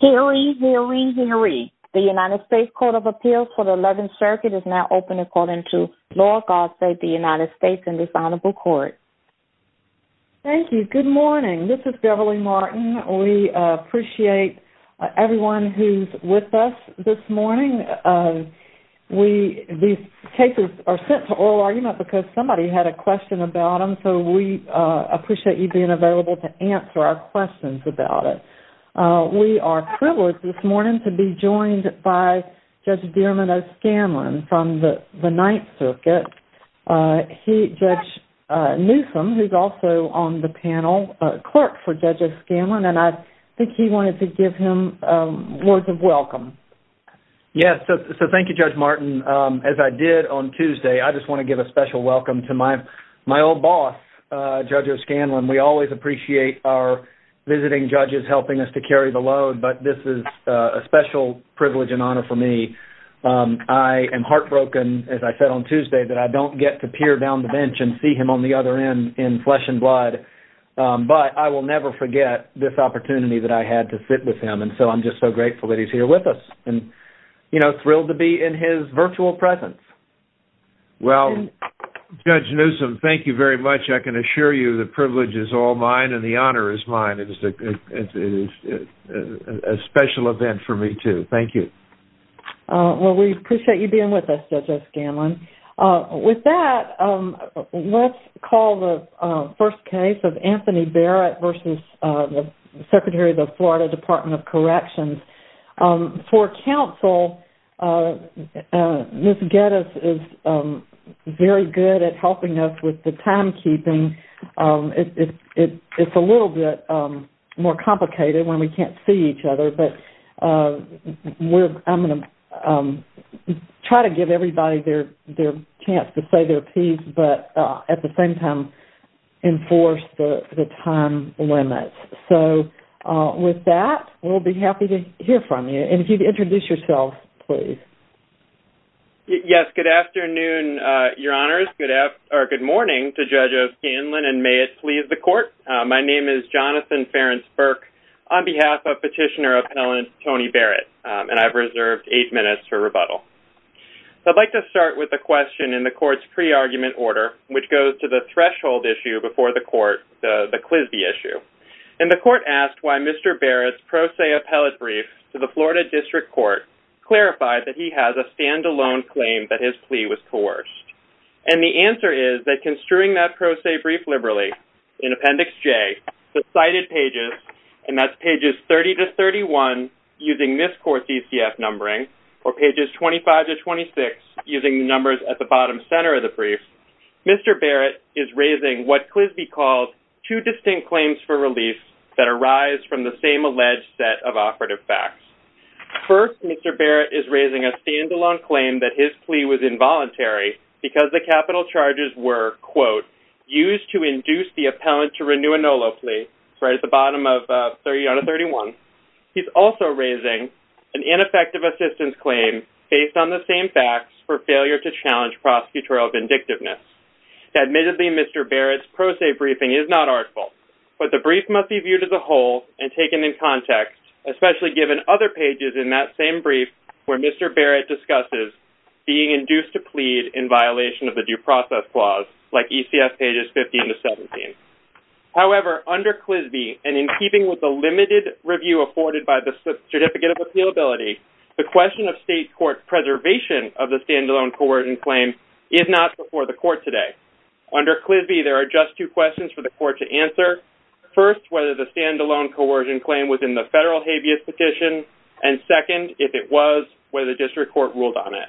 Hillary Hillary Hillary. The United States Court of Appeals for the 11th Circuit is now open according to law. God save the United States and this honorable court. Thank you. Good morning. This is Beverly Martin. We appreciate everyone who's with us this morning. These cases are sent to oral argument because somebody had a question about them so we appreciate you being available to answer our questions about it. We are privileged this morning to be joined by Judge Dierman O'Scanlan from the 9th Circuit. Judge Newsome who's also on the panel, clerk for Judge O'Scanlan and I think he wanted to give him words of welcome. Yes, so thank you Judge Martin. As I did on Tuesday, I just want to give a special welcome to my old boss Judge O'Scanlan. We always appreciate our visiting judges helping us to carry the load but this is a special privilege and honor for me. I am heartbroken as I said on Tuesday that I don't get to peer down the bench and see him on the other end in flesh and blood but I will never forget this opportunity that I had to sit with him and so I'm just so grateful that he's here with us and you know thrilled to be in his Judge Newsome, thank you very much. I can assure you the privilege is all mine and the honor is mine. It is a special event for me too. Thank you. Well, we appreciate you being with us Judge O'Scanlan. With that, let's call the first case of Anthony Barrett versus Secretary of the Florida Department of Corrections. For counsel, Ms. Geddes is very good at helping us with the timekeeping. It's a little bit more complicated when we can't see each other but I'm going to try to give everybody their chance to say their piece but at the same time enforce the time limit. So with that, we'll be happy to hear from you and if you'd introduce yourself, please. Yes, good afternoon, your honors, or good morning to Judge O'Scanlan and may it please the court. My name is Jonathan Ferenc-Burke on behalf of Petitioner Appellant Tony Barrett and I've reserved eight minutes for rebuttal. I'd like to start with a question in the court's pre-argument order which goes to the threshold issue before the court, the QSBI issue. And the court asked why Mr. Barrett's pro se appellate brief to the Florida District Court clarified that he has a stand-alone claim that his plea was coerced. And the answer is that construing that pro se brief liberally in Appendix J, the cited pages, and that's court DCF numbering, or pages 25 to 26 using the numbers at the bottom center of the brief, Mr. Barrett is raising what QSBI calls two distinct claims for relief that arise from the same alleged set of operative facts. First, Mr. Barrett is raising a stand-alone claim that his plea was involuntary because the capital charges were, quote, used to induce the appellant to renew a NOLO plea, right at the bottom of 30 out of 31. He's also raising an ineffective assistance claim based on the same facts for failure to challenge prosecutorial vindictiveness. Admittedly, Mr. Barrett's pro se briefing is not artful, but the brief must be viewed as a whole and taken in context, especially given other pages in that same brief where Mr. Barrett discusses being induced to plead in violation of the due process clause, like ECF pages 15 to 17. However, under QSBI, and in keeping with the limited review afforded by the Certificate of Appealability, the question of state court preservation of the stand-alone coercion claim is not before the court today. Under QSBI, there are just two questions for the court to answer. First, whether the stand-alone coercion claim was in the federal habeas petition, and second, if it was, whether district court ruled on it.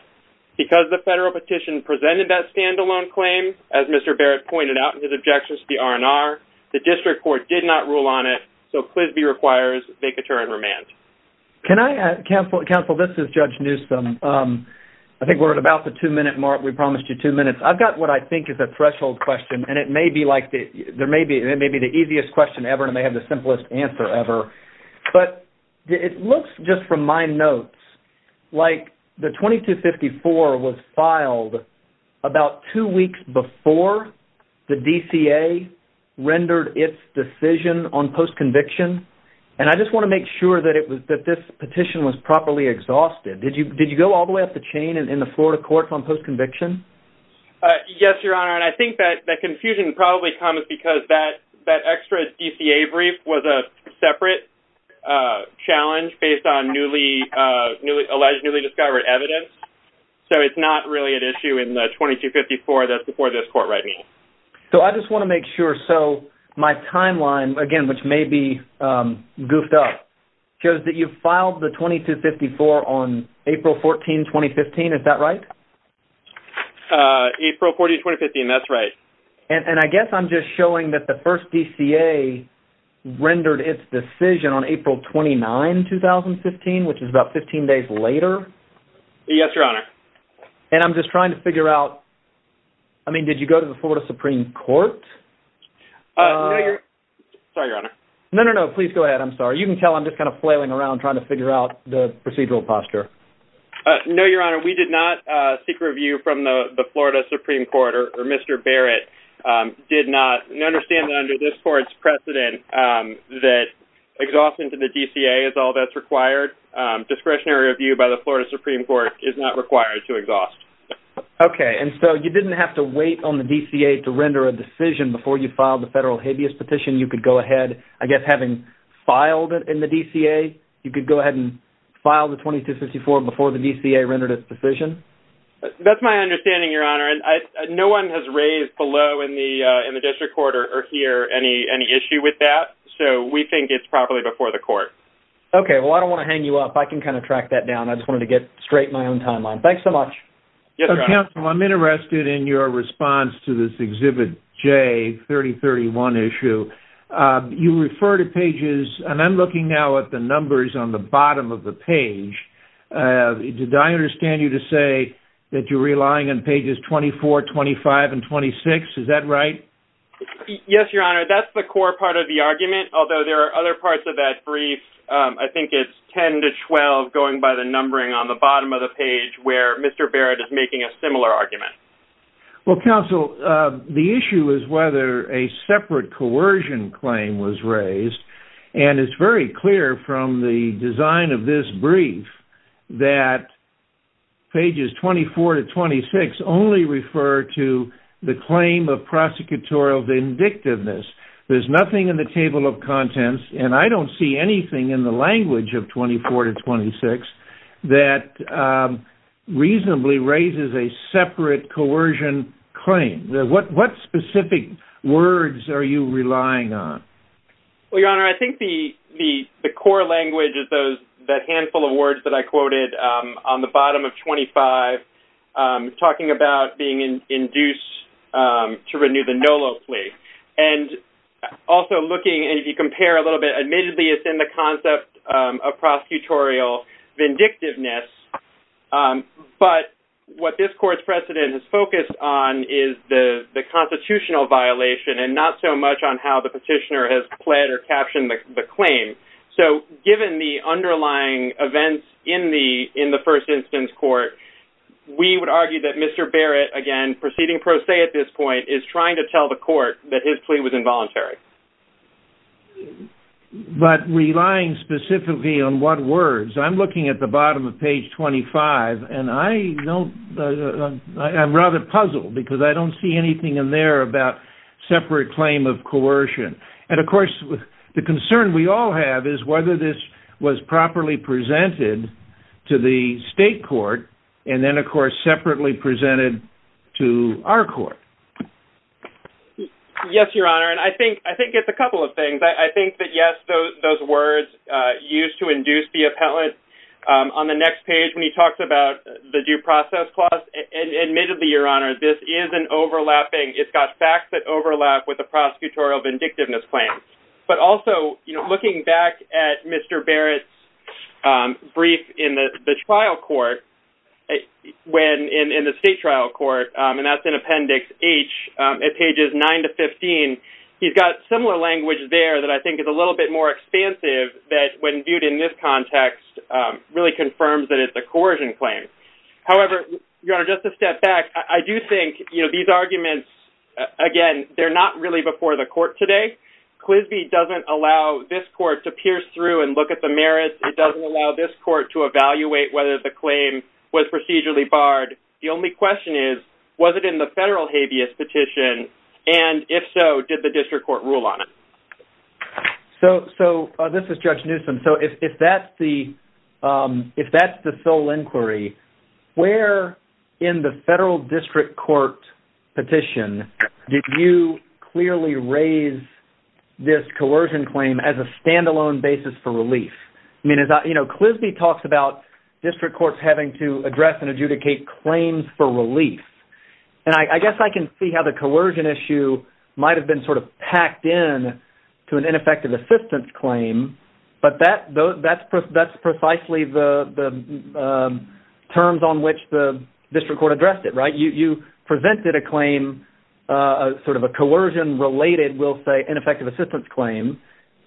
Because the federal petition presented that stand-alone claim, as Mr. Barrett pointed out in his objections to the R&R, the district court did not rule on it, so QSBI requires vacatur and remand. Can I, counsel, this is Judge Newsom. I think we're at about the two-minute mark. We promised you two minutes. I've got what I think is a threshold question, and it may be like, there may be the easiest question ever, and it may have the simplest answer ever. But it looks, just from my notes, like the 2254 was filed about two weeks before the DCA rendered its decision on post-conviction, and I just want to make sure that this petition was properly exhausted. Did you go all the way up the chain in the Florida courts on post-conviction? Yes, Your Honor, and I think that confusion probably comes because that extra DCA brief was a separate challenge based on newly discovered evidence, so it's not really an issue in the 2254 that's before this court right now. So I just want to make sure, so my timeline, again, which may be goofed up, shows that you filed the 2254 on April 14, 2015, is that right? April 14, 2015, that's right. And I guess I'm just showing that the first DCA rendered its decision on April 29, 2015, which is about 15 days later. Yes, Your Honor. And I'm just trying to figure out, I mean, did you go to the Florida Supreme Court? Sorry, Your Honor. No, no, no, please go ahead. I'm sorry. You can tell I'm just kind of flailing around trying to figure out the procedural posture. No, Your Honor, we did not seek review from the Florida Supreme Court, or Mr. Barrett did not. And I understand that under this court's precedent that exhaustion to the DCA is all that's required. Discretionary review by the Florida Supreme Court is not required to exhaust. Okay, and so you didn't have to wait on the DCA to render a decision before you filed the federal habeas petition. You could go ahead, I guess having filed it in the DCA, you could go ahead and file the 2254 before the DCA rendered its decision? That's my understanding, Your Honor, and no one has raised below in the district court or here any issue with that, so we think it's properly before the court. Okay, well I don't want to hang you up. I can kind of track that down. I just wanted to get straight in my own timeline. Thanks so much. Yes, Your Honor. Counsel, I'm interested in your response to this Exhibit J, 3031 issue. You refer to pages, and I'm looking now at the numbers on the bottom of the page. Did I understand you to say that you're relying on pages 24, 25, and 26? Is that right? Yes, Your Honor. That's the core part of the argument, although there are other parts of that brief. I think it's 10 to 12 going by the numbering on the bottom of the page where Mr. Barrett is making a similar argument. Well, Counsel, the issue is whether a separate coercion claim was raised, and it's very clear from the design of this brief that pages 24 to 26 only refer to the claim of prosecutorial vindictiveness. There's nothing in the table of contents, and I don't see anything in the language of 24 to 26 that reasonably raises a separate coercion claim. What specific words are you relying on? Well, Your Honor, I think the core language is that handful of words that I quoted on the bottom of 25 talking about being induced to renew the NOLO plea. And also looking, and if you compare a little bit, admittedly it's in the concept of prosecutorial vindictiveness, but what this Court's precedent has focused on is the constitutional violation and not so much on how the petitioner has pled or captioned the claim. So given the underlying events in the First Instance Court, we would argue that Mr. Barrett, again proceeding pro se at this point, is trying to tell the Court that his plea was involuntary. But relying specifically on what words? I'm looking at the bottom of page 25, and I'm rather puzzled because I don't see anything in there about separate claim of coercion. And of course the concern we all have is whether this was properly presented to the State Court and then of course separately presented to our Court. Yes, Your Honor, and I think it's a couple of things. I think that yes, those words used to induce the appellate on the next page when he talks about the due process clause and admittedly, Your Honor, this is an overlapping, it's got facts that overlap with the prosecutorial vindictiveness claim. But also, looking back at Mr. Barrett's brief in the trial court, in the State trial court, and that's in Appendix H at pages 9 to 15, he's got similar language there that I think is a little bit more expansive that when viewed in this context really confirms that it's a coercion claim. However, Your Honor, just a step back, I do think these arguments, again, they're not really before the Court today. Quisbee doesn't allow this Court to pierce through and look at the merits. It doesn't allow this Court to evaluate whether the claim was procedurally barred. The only question is, was it in the federal habeas petition? And if so, did the District Court rule on it? So, this is Judge Newsom. So, if that's the sole inquiry, where in the federal District Court petition did you clearly raise this coercion claim as a standalone basis for relief? I mean, you know, Quisbee talks about District Courts having to address and adjudicate claims for relief. And I guess I can see how the coercion issue might have been sort of packed in to an ineffective assistance claim, but that's precisely the terms on which the District Court addressed it, right? You presented a claim, sort of a coercion-related, we'll say, ineffective assistance claim,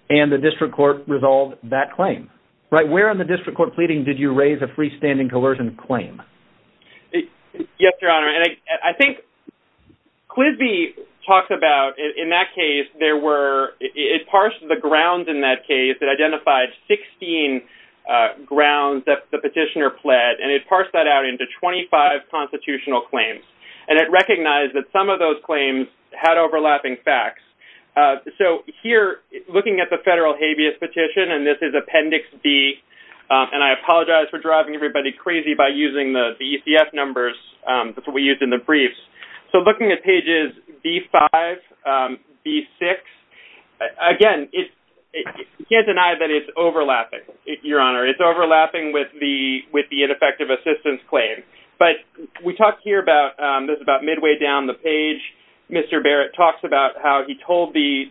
and the District Court resolved that claim, right? Where in the District Court pleading did you raise a freestanding coercion claim? Yes, Your Honor. And I think Quisbee talks about, in that case, there were, it parsed the grounds in that case, it identified 16 grounds that the petitioner pled, and it parsed that out into 25 constitutional claims. And it recognized that some of those claims had overlapping facts. So, here, looking at the federal habeas petition, and this is Appendix B, and I apologize for driving everybody crazy by using the ECF numbers that we used in the briefs. So, looking at pages B5, B6, again, you can't deny that it's overlapping, Your Honor. It's overlapping with the ineffective assistance claim. But we talked here about, this is about midway down the page, Mr. Barrett talks about how he told the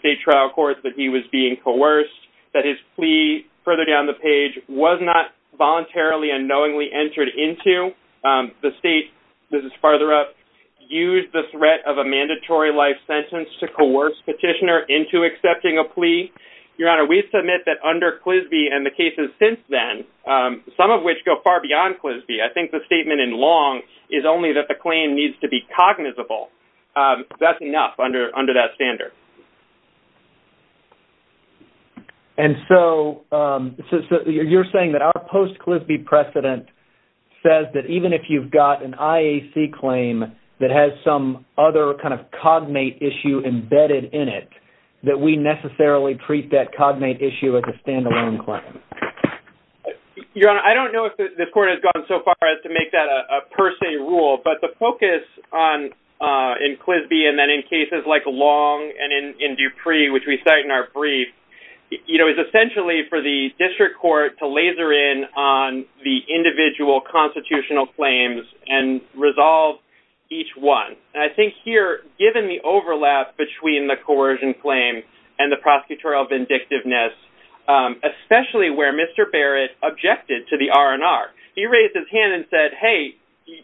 State Trial Court that he was being coerced, that his plea further down the page was not voluntarily and knowingly entered into. The State, this is farther up, used the threat of a mandatory life sentence to coerce petitioner into accepting a plea. Your Honor, we submit that under Quisbee and the cases since then, some of which go far beyond Quisbee, I think the statement in Long is only that the claim needs to be cognizable. That's enough under that standard. And so, you're saying that our post-Quisbee precedent says that even if you've got an IAC claim that has some other kind of cognate issue embedded in it, that we necessarily treat that cognate issue as a standalone claim? Your Honor, I don't know if this Court has gone so far as to make that a per se rule, but the focus in Quisbee and then in cases like Long and in Dupree, which we cite in our brief, is essentially for the District Court to laser in on the individual constitutional claims and resolve each one. And I think here, given the overlap between the coercion claim and the prosecutorial vindictiveness, especially where Mr. Barrett objected to the R&R, he raised his hand and said, hey,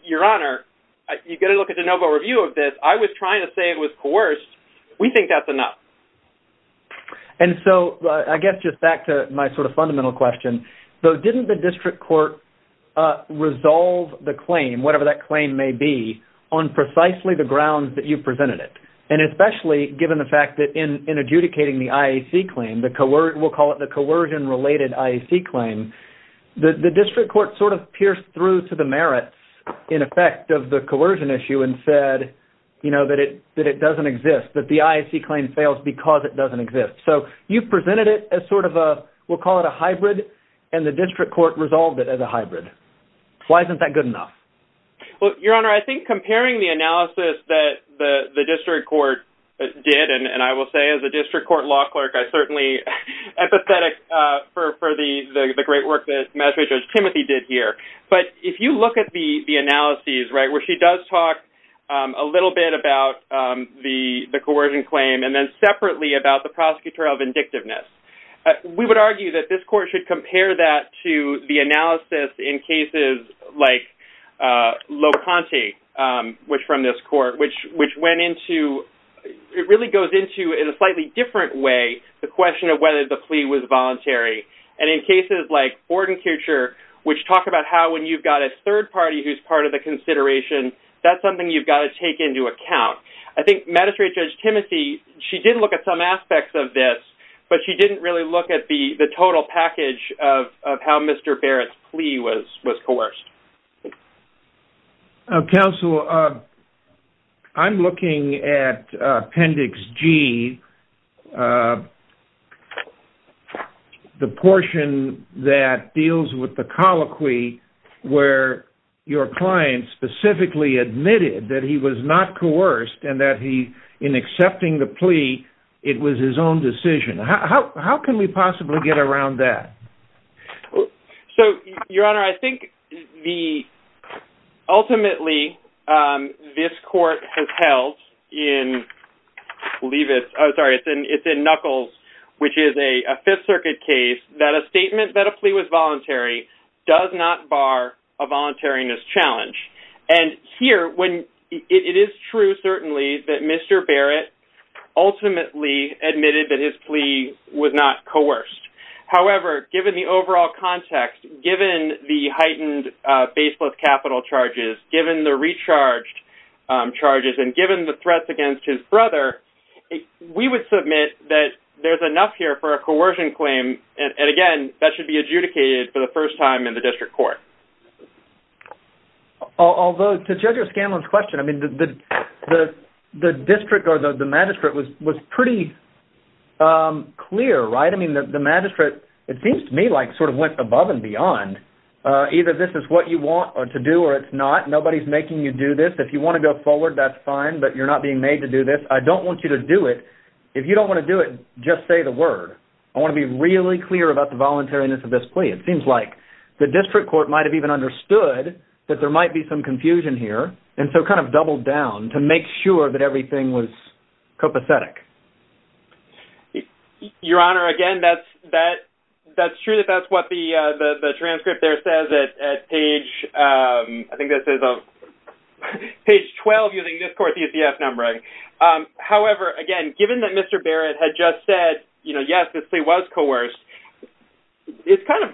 Your Honor, you've got to look at the NoVo review of this. I was trying to say it was coerced. We think that's enough. And so, I guess just back to my sort of fundamental question, though, didn't the District Court resolve the claim, whatever that claim may be, on precisely the grounds that you presented it? And especially given the fact that in adjudicating the IAC claim, we'll call it the coercion-related IAC claim, the District Court sort of pierced through to the merits, in effect, of the coercion issue and said that it doesn't exist, that the IAC claim fails because it doesn't exist. So, you presented it as sort of a, we'll call it a hybrid, and the District Court resolved it as a hybrid. Why isn't that good enough? Well, Your Honor, I think comparing the analysis that the District Court did, and I will say as a District Court law clerk, I'm certainly empathetic for the great work that Judge Timothy did here. But if you look at the analysis where she does talk a little bit about the coercion claim, and then separately about the prosecutorial vindictiveness, we would argue that this Court should compare that to the analysis in cases like Locante, from this Court, which went into, it really goes into in a slightly different way the question of whether the plea was voluntary. And in cases like which talk about how when you've got a third party who's part of the consideration, that's something you've got to take into account. I think Magistrate Judge Timothy, she did look at some aspects of this, but she didn't really look at the total package of how Mr. Barrett's plea was coerced. Counsel, I'm looking at Appendix G, the portion that deals with the colloquy where your client specifically admitted that he was not coerced and that he, in accepting the plea, it was his own decision. How can we possibly So, Your Honor, I think the, ultimately, this Court has held in, I believe it's in Knuckles, which is a Fifth Circuit case that a statement that a plea was voluntary does not bar a voluntariness challenge. And here, it is true, certainly, that Mr. Barrett ultimately admitted that his plea was not coerced. However, given the overall context, given the heightened baseless capital charges, given the recharged charges, and given the threats against his brother, we would submit that there's enough here for a coercion claim, and again, that should be adjudicated for the first time in the District Court. Although, to Judge O'Scanlan's question, the District or the Magistrate was pretty clear, right? The Magistrate, it seems to me, sort of went above and beyond. Either this is what you want to do or it's not. Nobody's making you do this. If you want to go forward, that's fine, but you're not being made to do this. I don't want you to do it. If you don't want to do it, just say the word. I want to be really clear about the voluntariness of this plea. It seems like the District Court might have even understood that there might be some confusion here and so kind of doubled down to make sure that everything was copacetic. Your Honor, again, that's true that that's what the transcript there says at page 12 using this court's UCF numbering. However, again, given that Mr. Barrett had just said yes, this plea was coerced, it's kind of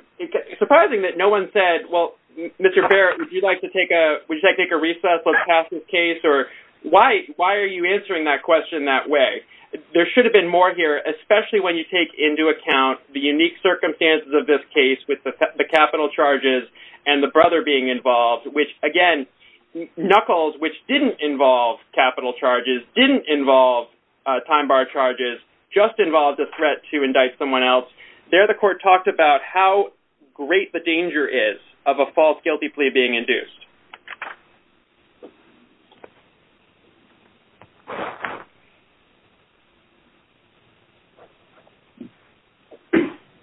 surprising that no one said, well, Mr. Barrett, would you like to take a recess on Cass's case? Why are you answering that question that way? There should have been more here especially when you take into account the unique circumstances of this case with the capital charges and the brother being involved, which, again, Knuckles, which didn't involve capital charges, didn't involve time bar charges, just involved a threat to indict someone else. There the court talked about how great the danger is of a false guilty plea being induced.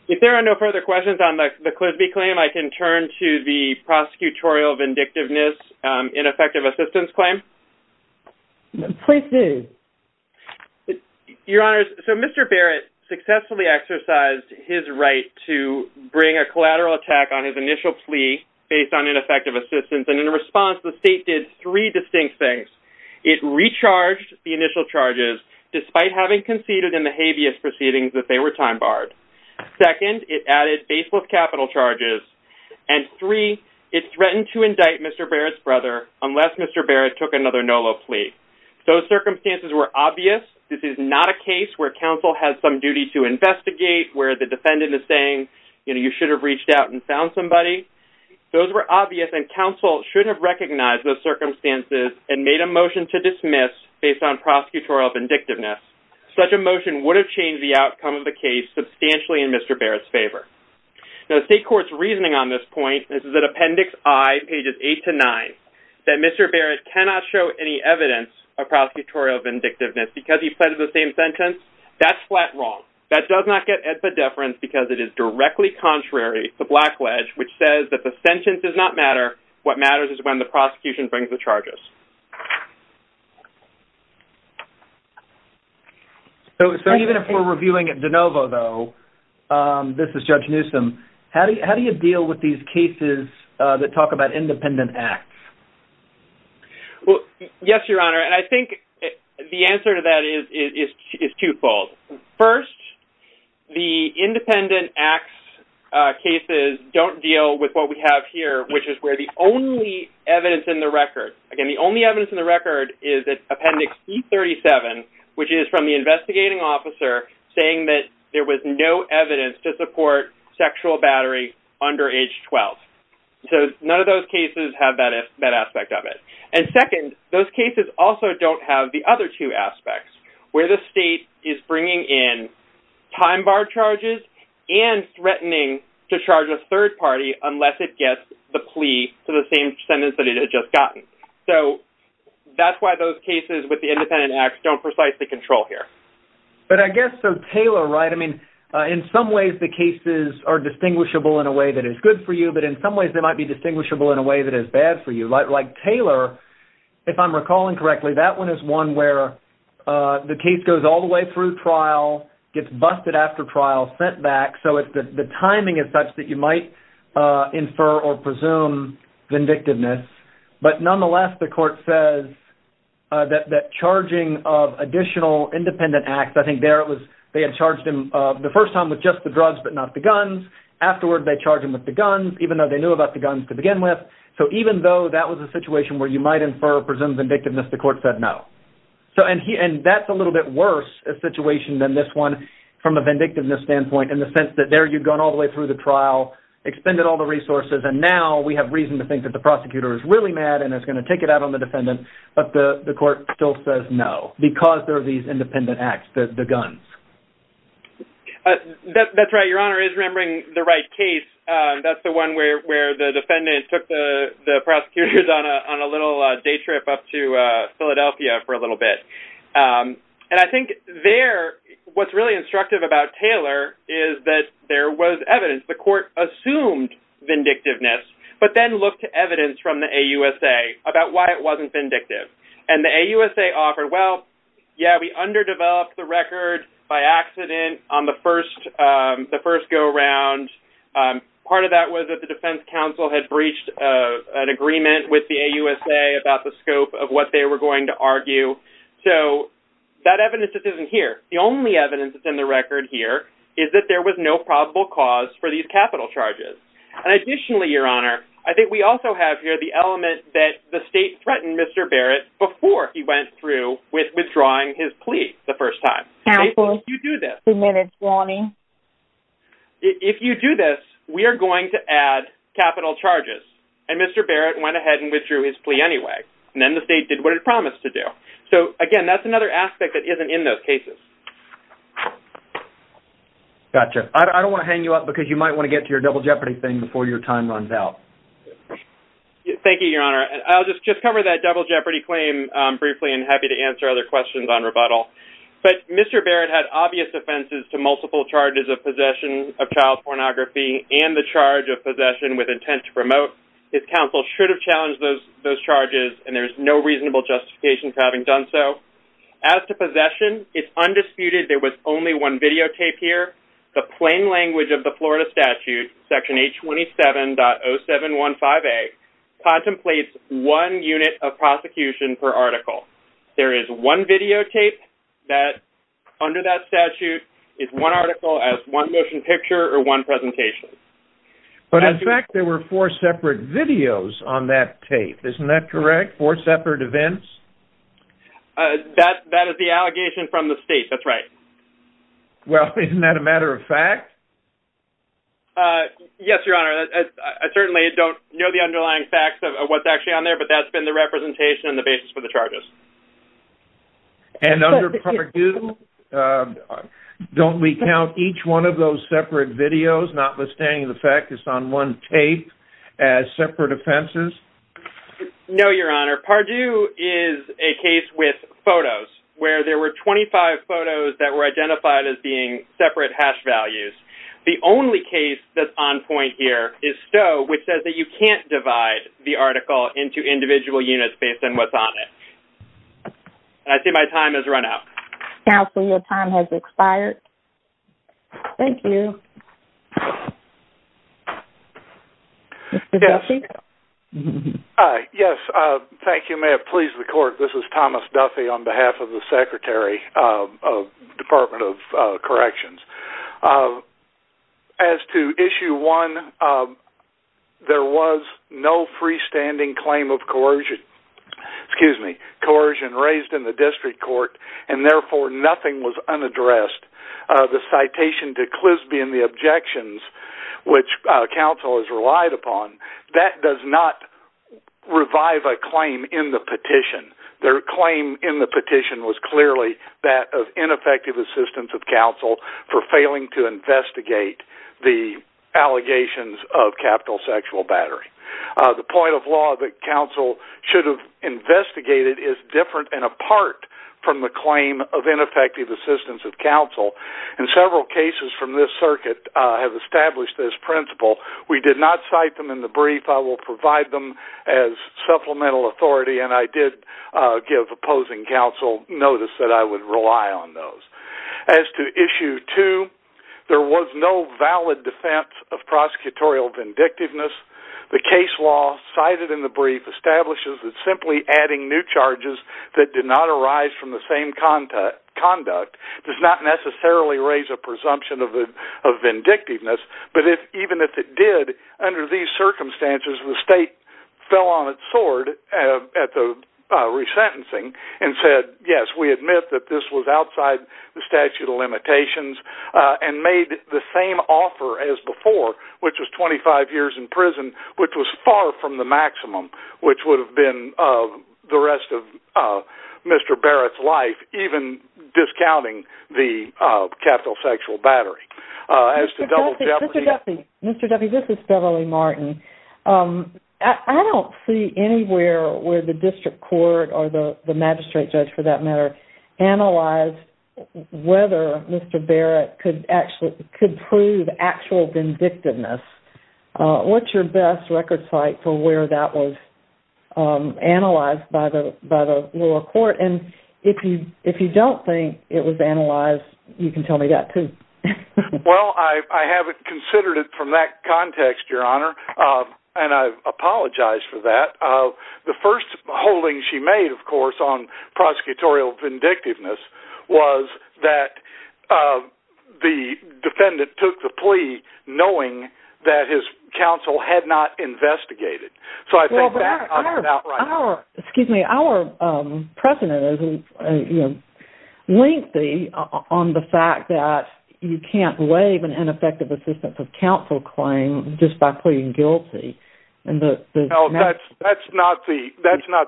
If there are no further questions on the Clisby claim, I can turn to the Prosecutorial Vindictiveness Ineffective Assistance Claim. Please do. Your Honor, so Mr. Barrett successfully exercised his right to he did not have the right to bring a collateral attack on his initial plea based on ineffective and in response, the state did three distinct things. It recharged the initial charges despite having conceded in the habeas proceedings that they were time barred. Second, it added baseless capital charges and three, it threatened to indict Mr. Barrett's brother unless Mr. Barrett took another NOLA plea. Those circumstances were obvious. This is not a case where counsel has some duty to investigate where the defendant is saying, you know, you should have reached out and found somebody. Those were obvious and counsel should have recognized those circumstances and made a motion to dismiss based on prosecutorial vindictiveness. Such a motion would have changed the outcome of the case substantially in Mr. Barrett's favor. Now the state court's reasoning on this point, this is at Appendix I, pages 8 to 9, that Mr. Barrett cannot show any evidence of prosecutorial vindictiveness because he pleaded the same sentence. That's flat wrong. That does not get at the deference because it is directly contrary to Black Ledge, which says that the sentence does not matter. What matters is when the prosecution brings the charges. So even if we're reviewing at DeNovo, though, this is Judge Newsom, how do you deal with these cases that talk about independent acts? Well, yes, Your Honor, and I think the answer to that is twofold. First, the independent acts cases don't deal with what we have here, which is where the only evidence in the record is Appendix E37, which is from the investigating officer saying that there was no evidence to support sexual battery under age 12. So none of those cases have that aspect of it. And second, those cases also don't have the other two aspects, where the state is bringing in time bar charges and threatening to charge a third party unless it gets the plea for the same sentence that it had just gotten. So that's why those cases with the independent acts don't precisely control here. But I guess Taylor, right, I mean, in some ways the cases are distinguishable in a way that is good for you, but in some ways they might be distinguishable in a way that is bad for you. Like Taylor, if I'm recalling correctly, that one is one where the case goes all the way through trial, gets busted after trial, sent back, so the timing is such that you might infer or presume vindictiveness. But nonetheless, the court says that charging of additional independent acts, I think there it was, they had charged him the first time with just the drugs but not the guns. Afterward, they charged him with the guns, even though they knew about the guns to begin with. So even though that was a situation where you might infer or presume vindictiveness, the court said no. And that's a little bit worse a situation than this one from a vindictiveness standpoint in the sense that there you've gone all the way through the trial, expended all the resources, and now we have reason to think that the prosecutor is really mad and is going to take it out on the defendant, but the court still says no because there are these independent acts, the guns. That's right, Your Honor, is remembering the right case. That's the one where the defendant took the prosecutors on a little day trip up to Philadelphia for a little bit. And I think there, what's really instructive about Taylor is that there was evidence. The court assumed vindictiveness but then looked to evidence from the AUSA about why it wasn't vindictive. And the AUSA offered, well, yeah, we underdeveloped the record by accident on the first go-around. Part of that was that the defense counsel had breached an agreement with the AUSA about the scope of what they were going to argue. So that evidence isn't here. The only evidence that's in the record here is that there was no probable cause for these capital charges. And additionally, Your Honor, I think we also have here the element that the state threatened Mr. Barrett before he went through with withdrawing his plea the first time. If you do this, if you do this, we are going to add capital charges. And Mr. Barrett went ahead and withdrew his plea anyway. And then the state did what it promised to do. So, again, that's another aspect that isn't in those cases. Gotcha. I don't want to hang you up because you might want to get to your Double Jeopardy thing before your time runs out. Thank you, Your Honor. I'll just cover that Double Jeopardy claim briefly and happy to answer other questions on rebuttal. But Mr. Barrett had obvious offenses to multiple charges of possession of child pornography and the charge of possession with intent to promote. His counsel should have challenged those charges and there's no reasonable justification for having done so. As to possession, it's undisputed there was only one videotape here. The plain language of the Florida statute, Section 827.0715A, contemplates one unit of prosecution per article. There is one videotape that under that statute is one motion picture or one presentation. But, in fact, there were four separate videos on that tape. Isn't that correct? Four separate events? That is the allegation from the state. That's right. Well, isn't that a matter of fact? Yes, Your Honor. I certainly don't know the underlying facts of what's actually on there, but that's been the representation and the basis for the charges. And under Purdue, don't we count each one of those separate videos notwithstanding the fact it's on one tape as separate offenses? No, Your Honor. Purdue is a case with photos where there were 25 photos that were identified as being separate hash values. The only case that's on point here is Stowe, which says that you can't divide the article into individual units based on what's on it. And I see my time has run out. Counsel, your time has expired. Thank you. Mr. Duffy? Yes. Thank you. May it please the Court, this is Thomas Duffy on behalf of the Secretary of the Department of Corrections. As to Issue 1, there was no freestanding claim of coercion raised in the District Court, and therefore nothing was unaddressed. The citation to Clisby and the objections which counsel has relied upon, that does not revive a claim in the petition. Their claim in the petition was clearly that of ineffective assistance of counsel for failing to investigate the allegations of capital sexual battery. The point of law that counsel should have investigated is different and apart from the claim of ineffective assistance of counsel. And several cases from this circuit have established this principle. We did not cite them in the brief. I will provide them as supplemental authority, and I did give opposing counsel notice that I would rely on those. As to Issue 2, there was no valid defense of prosecutorial vindictiveness. The case law cited in the brief establishes that simply adding new charges that did not arise from the same conduct does not necessarily raise a presumption of vindictiveness, but even if it did, under these circumstances, the state fell on its sword at the resentencing and said, yes, we admit that this was outside the statute of limitations, and made the same offer as before, which was 25 years in prison, which was far from the maximum which would have been the rest of Mr. Barrett's life, even discounting the capital sexual battery. Mr. Duffy, this is Beverly Martin. I don't see anywhere where the district court or the magistrate judge, for that matter, analyzed whether Mr. Barrett could prove actual vindictiveness. What's your best record site for where that was analyzed by the lower court? If you don't think it was analyzed, you can tell me that, too. Well, I haven't considered it from that context, Your Honor, and I apologize for that. The first holding she made, of course, on prosecutorial vindictiveness was that the defendant took the plea knowing that his counsel had not investigated. Our precedent is lengthy on the fact that you can't waive an ineffective assistance of counsel claim just by pleading guilty. That's not the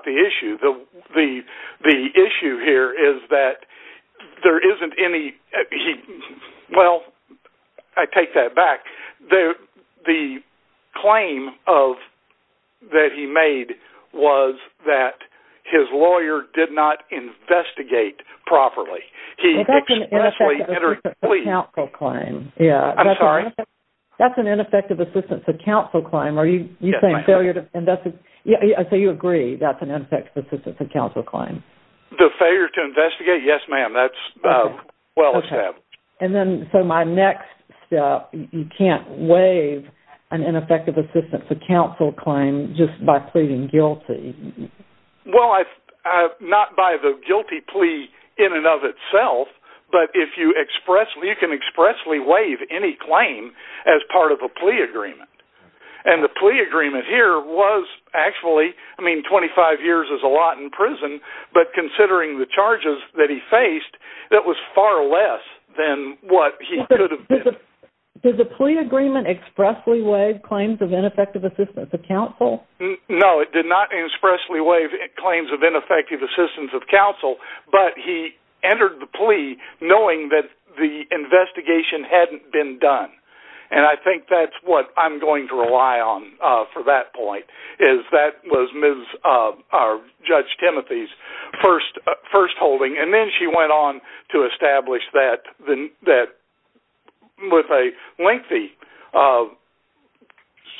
issue. The issue here is that there isn't any Well, I take that back. The claim that he made was that his lawyer did not investigate properly. That's an ineffective assistance of counsel claim. I'm sorry? That's an ineffective assistance of counsel claim. Are you saying failure to investigate? You agree that's an ineffective assistance of counsel claim. Failure to investigate? Yes, ma'am. That's well established. My next step is you can't waive an ineffective assistance of counsel claim just by pleading guilty. Well, not by the guilty plea in and of itself, but you can expressly waive any claim as part of a plea agreement. And the plea agreement here was actually, I mean, 25 years is a lot in prison, but considering the charges that he faced, that was far less than what he could have been. Did the plea agreement expressly waive claims of ineffective assistance of counsel? No, it did not expressly waive claims of ineffective assistance of counsel, but he entered the plea knowing that the investigation hadn't been done. And I think that's what I'm going to rely on for that point is that was Judge Timothy's first holding. And then she went on to establish that with a lengthy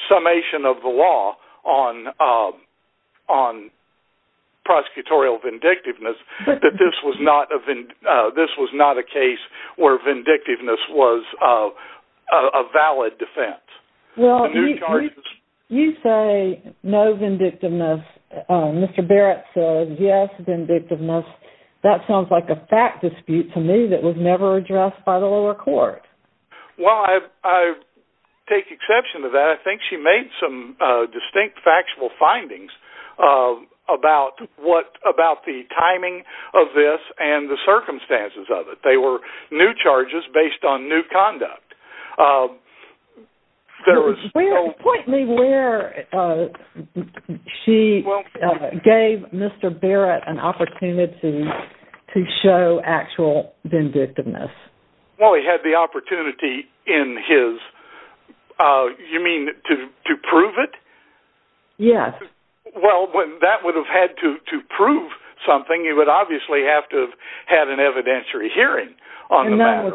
summation of the law on prosecutorial vindictiveness that this was not a case where a valid defense. Well, you say no vindictiveness. Mr. Barrett says yes, vindictiveness. That sounds like a fact dispute to me that was never addressed by the lower court. Well, I take exception to that. I think she made some distinct factual findings about the timing of this and the circumstances of it. They were new charges based on new conduct. Point me where she gave Mr. Barrett an opportunity to show actual vindictiveness. Well, he had the opportunity in his you mean to prove it? Yes. Well, that would have had to prove something. He would obviously have to have had an evidentiary hearing on the matter.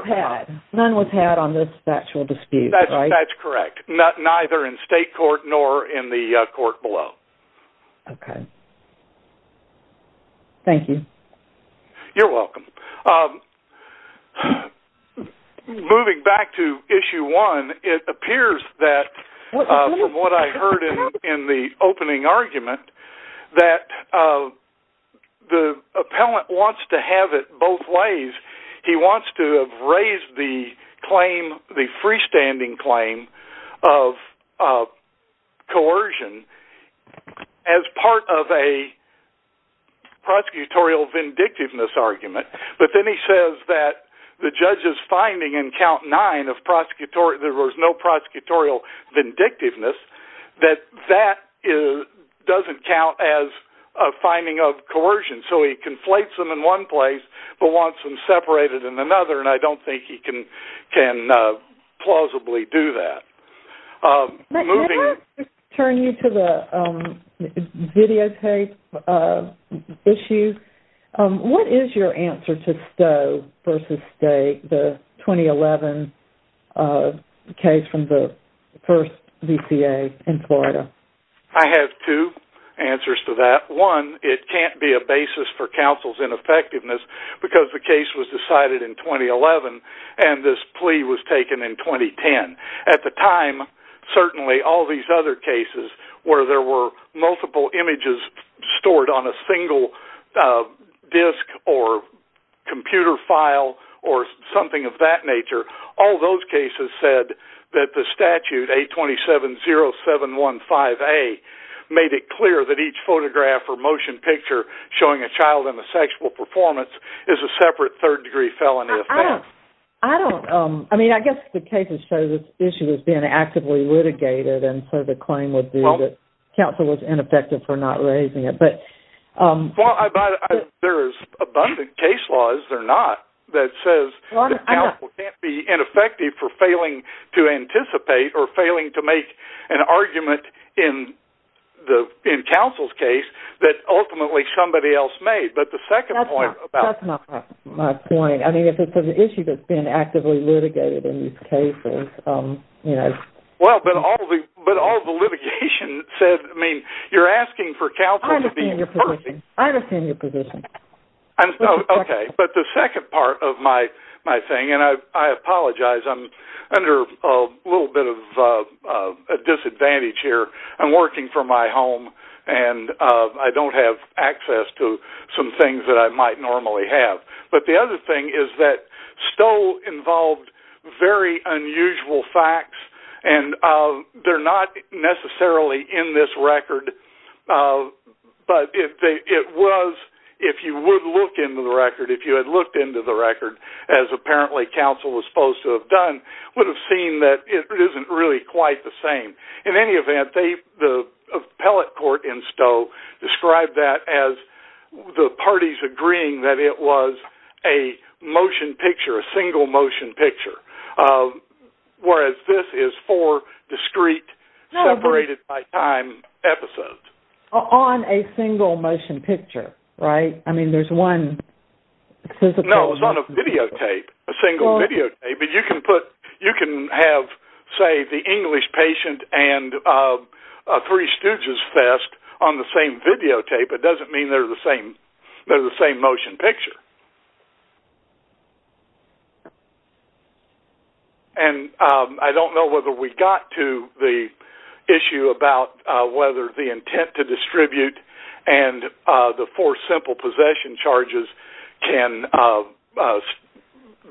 None was had on this factual dispute. That's correct. Neither in state court nor in the court below. Thank you. You're welcome. Moving back to issue one, it appears that from what I heard in the opening argument that the appellant wants to have it both ways. He wants to have raised the claim, the freestanding claim of coercion as part of a prosecutorial vindictiveness argument. But then he says that the judge's finding in count nine of there was no prosecutorial vindictiveness that that doesn't count as a finding of I don't think he can plausibly do that. Can I turn you to the videotape issue? What is your answer to Stowe versus the 2011 case from the first VCA in Florida? I have two answers to that. One, it can't be a basis for counsel's ineffectiveness because the case was decided in 2011 and this plea was taken in 2010. At the time certainly all these other cases where there were multiple images stored on a single disk or computer file or something of that nature, all those cases said that the statute 827-0715-A made it clear that each child in a sexual performance is a separate third degree felony offense. I guess the cases show this issue is being actively litigated and so the claim would be that counsel was ineffective for not raising it. There is abundant case law, is there not, that says that counsel can't be ineffective for failing to anticipate or failing to make an argument in counsel's case that ultimately somebody else made. But the second point about... That's not my point. I mean if it's an issue that's being actively litigated in these cases, you know... Well, but all the litigation said, I mean, you're asking for counsel to be... I understand your position. Okay, but the second part apologize, I'm under a little bit of disadvantage here. I'm working from my home and I don't have access to some things that I might normally have. But the other thing is that Stoll involved very unusual facts and they're not necessarily in this record but it was, if you would look into the record, if you had looked into the record as apparently counsel was supposed to have done, would have seen that it isn't really quite the same. In any event, the appellate court in Stoll described that as the parties agreeing that it was a motion picture, a single motion picture. Whereas this is four discrete separated by time episodes. On a single motion picture, right? I mean there's one... No, it was on a videotape. A single videotape. But you can put... A patient and a Three Stooges fest on the same videotape. It doesn't mean they're the same motion picture. And I don't know whether we got to the issue about whether the intent to distribute and the four simple possession charges can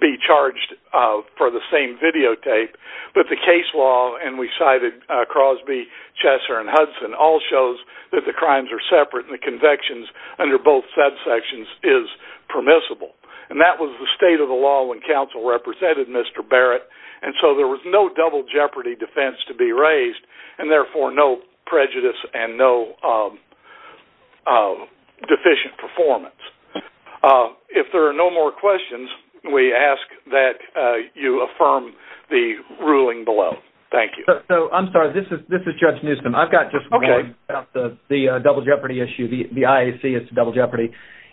be charged for the same offense. And the evidence cited, Crosby, Chesser, and Hudson, all shows that the crimes are separate and the convictions under both subsections is permissible. And that was the state of the law when counsel represented Mr. Barrett. And so there was no double jeopardy defense to be raised, and therefore no prejudice and no deficient performance. If there are no more questions, we ask that you affirm the ruling below. Thank you. I'm sorry. This is Judge Newsom. I've got just one about the double jeopardy issue. The IAC is to double jeopardy.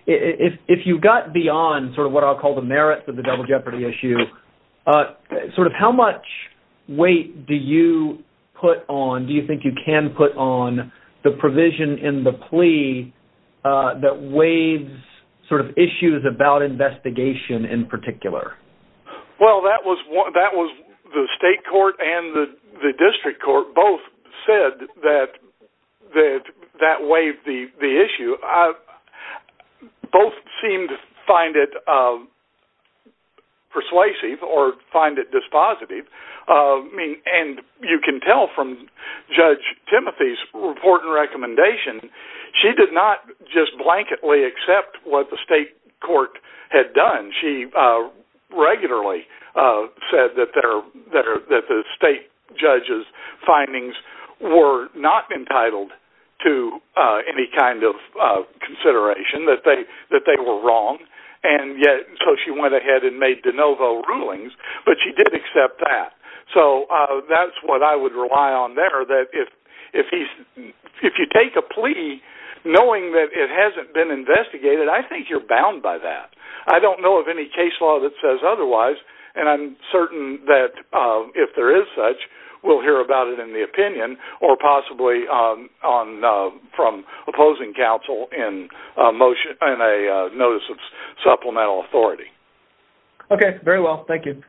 If you got beyond sort of what I'll call the merits of the double jeopardy issue, sort of how much weight do you put on, do you think you can put on the provision in the plea that waives sort of issues about investigation in particular? Well, that was the state court and the district court both said that that waived the issue. Both seemed to find it persuasive or find it dispositive. And you can tell from Judge Timothy's report and her report that she did not just blanketly accept what the state court had done. She regularly said that the state judge's findings were not entitled to any kind of consideration, that they were wrong. So she went ahead and made de novo rulings, but she did accept that. So that's what I would rely on there, that if you take a plea knowing that it hasn't been investigated, I think you're bound by that. I don't know of any case law that says otherwise, and I'm certain that if there is such, we'll hear about it in the opinion or possibly from opposing counsel in a notice of supplemental authority. Okay. Very well. Thank you.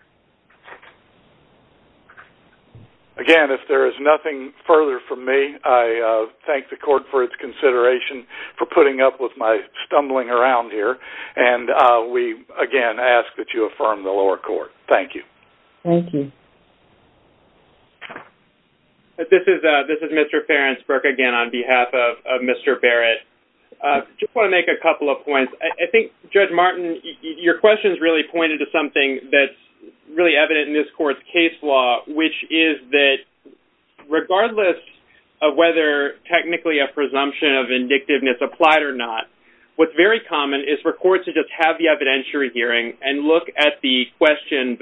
Again, if there is nothing further from me, I thank the court for its consideration for putting up with my stumbling around here, and we again ask that you affirm the lower court. Thank you. Thank you. This is Mr. Ferensberg again on behalf of Mr. Barrett. Just want to make a couple of points. I think, Judge Martin, your questions really pointed to something that is really evident in this court's case law, which is that regardless of whether technically a presumption of vindictiveness applied or not, what's very common is for courts to just have the evidentiary hearing and look at the question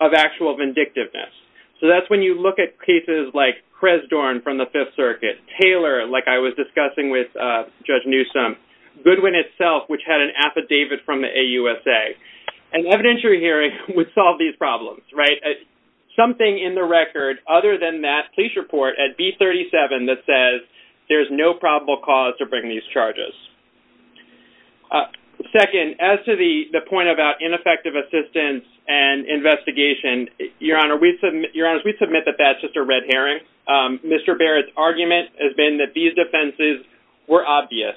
of actual vindictiveness. So that's when you look at cases like Cresdorn from the Fifth Circuit, Taylor, like I was discussing with Judge Newsom, Goodwin itself, which had an affidavit from the AUSA. An evidentiary hearing would solve these problems, right? Something in the record other than that police report at B37 that says there's no probable cause to bring these charges. Second, as to the point about ineffective assistance and investigation, Your Honor, we submit that that's just a red herring. Mr. Barrett's argument has been that these defenses were obvious.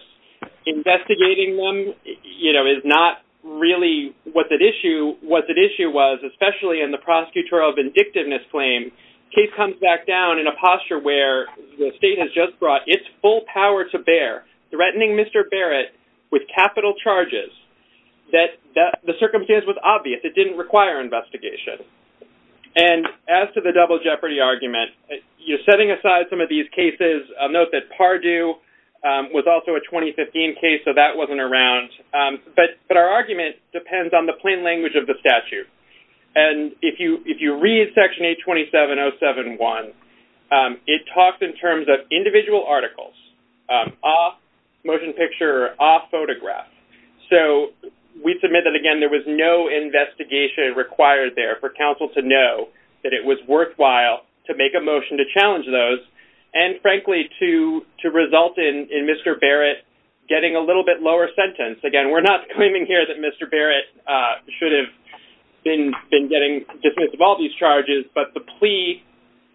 Investigating them is not really what the issue was, especially in the prosecutorial vindictiveness claim. Case comes back down in a posture where the state has just brought its full power to bear threatening Mr. Barrett with capital charges that the circumstance was obvious. It didn't require investigation. And as to the double jeopardy argument, you're setting aside some of these cases. Note that the case that Mr. Barrett referred to was also a 2015 case, so that wasn't around. But our argument depends on the plain language of the statute. And if you read Section 827-071, it talks in terms of individual articles off motion picture, off photograph. So we submit that, again, there was no investigation required there for counsel to know that it was worthwhile to make a motion to challenge those and, frankly, to result in Mr. Barrett getting a little bit lower sentence. Again, we're not claiming here that Mr. Barrett should have been getting dismissed of all these charges, but the plea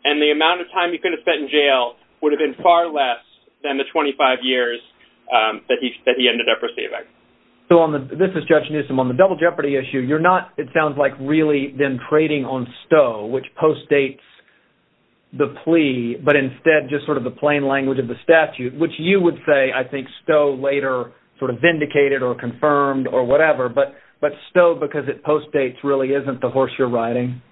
and the amount of time he could have spent in jail would have been far less than the 25 years that he ended up receiving. So this is Judge Newsom. On the double jeopardy issue, you're not, it sounds like, really been trading on Stowe, which postdates the plea, but instead just sort of the plain language of the statute, which you would say, I think, Stowe later sort of vindicated or confirmed or whatever, but Stowe, because it postdates, really isn't the horse you're riding.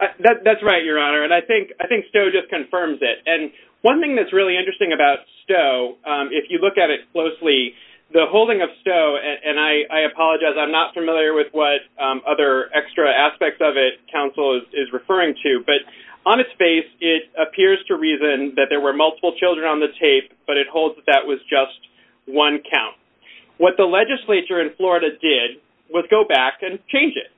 That's right, Your Honor, and I think Stowe just confirms it. And one thing that's really interesting about Stowe, if you look at it closely, the holding of Stowe, and I apologize, I'm not familiar with what other extra aspects of it counsel is referring to, but on its face, it appears to reason that there were multiple children on the tape, but it holds that that was just one count. What the legislature in Florida did was go back and change it.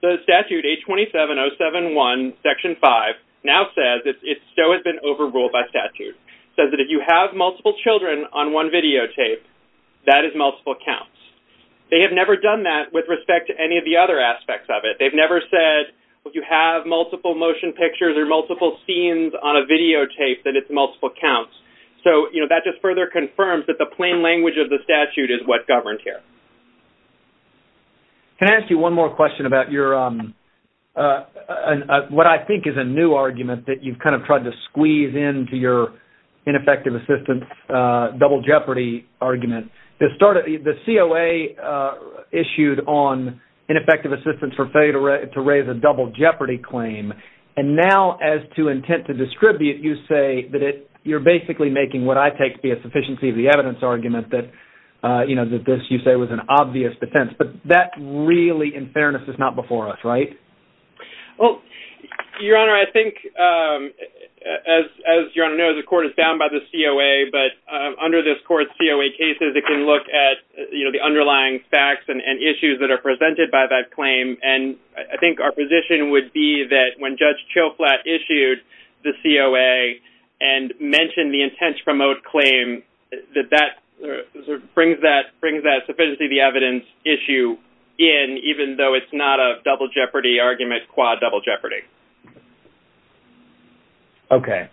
The statute, H-27071, Section 5, now says that Stowe has been overruled by statute. It says that if you have multiple children on one videotape, that is multiple counts. They have never done that with respect to any of the other aspects of it. They've never said if you have multiple motion pictures or multiple scenes on a videotape, that it's multiple counts. That just further confirms that the plain language of the statute is what governed here. Can I ask you one more question about your what I think is a new argument that you've kind of tried to squeeze into your ineffective assistance double jeopardy argument? The COA issued on ineffective assistance for failure to raise a double jeopardy claim, and now as to intent to distribute, you say that you're basically making what I take to be a sufficiency of the evidence argument that this, you say, was an obvious defense. But that really, in fairness, is not before us, right? Your Honor, I think as your Honor knows, the court is bound by the COA, but under this court's COA cases, it can look at the underlying facts and issues that are presented by that claim. And I think our position would be that when Judge Chilflatt issued the COA and mentioned the intent to promote claim, that that brings that sufficiency of the evidence issue in even though it's not a double jeopardy argument, quad double jeopardy. Okay.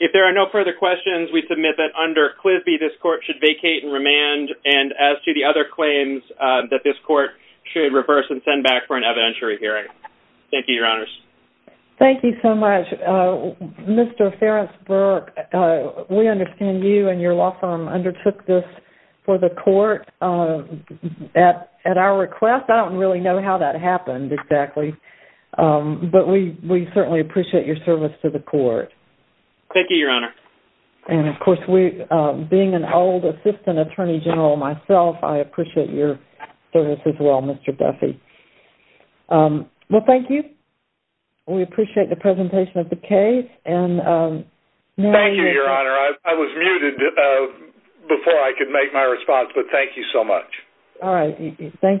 If there are no further questions, we submit that under Clisby, this court should vacate and remand, and as to the other claims that this court should reverse and send back for an evidentiary hearing. Thank you, Your Honors. Thank you so much. Mr. Ferris-Burke, we understand you and your law firm undertook this for the court. At our request, I don't really know how that happened exactly, but we certainly appreciate your service to the court. Thank you, Your Honor. And of course, being an old Assistant Attorney General myself, I appreciate your service as well, Mr. Duffy. Well, thank you. We appreciate the presentation of the case. Thank you, Your Honor. I was muted before I could make my response, but thank you so much. All right. Thank you.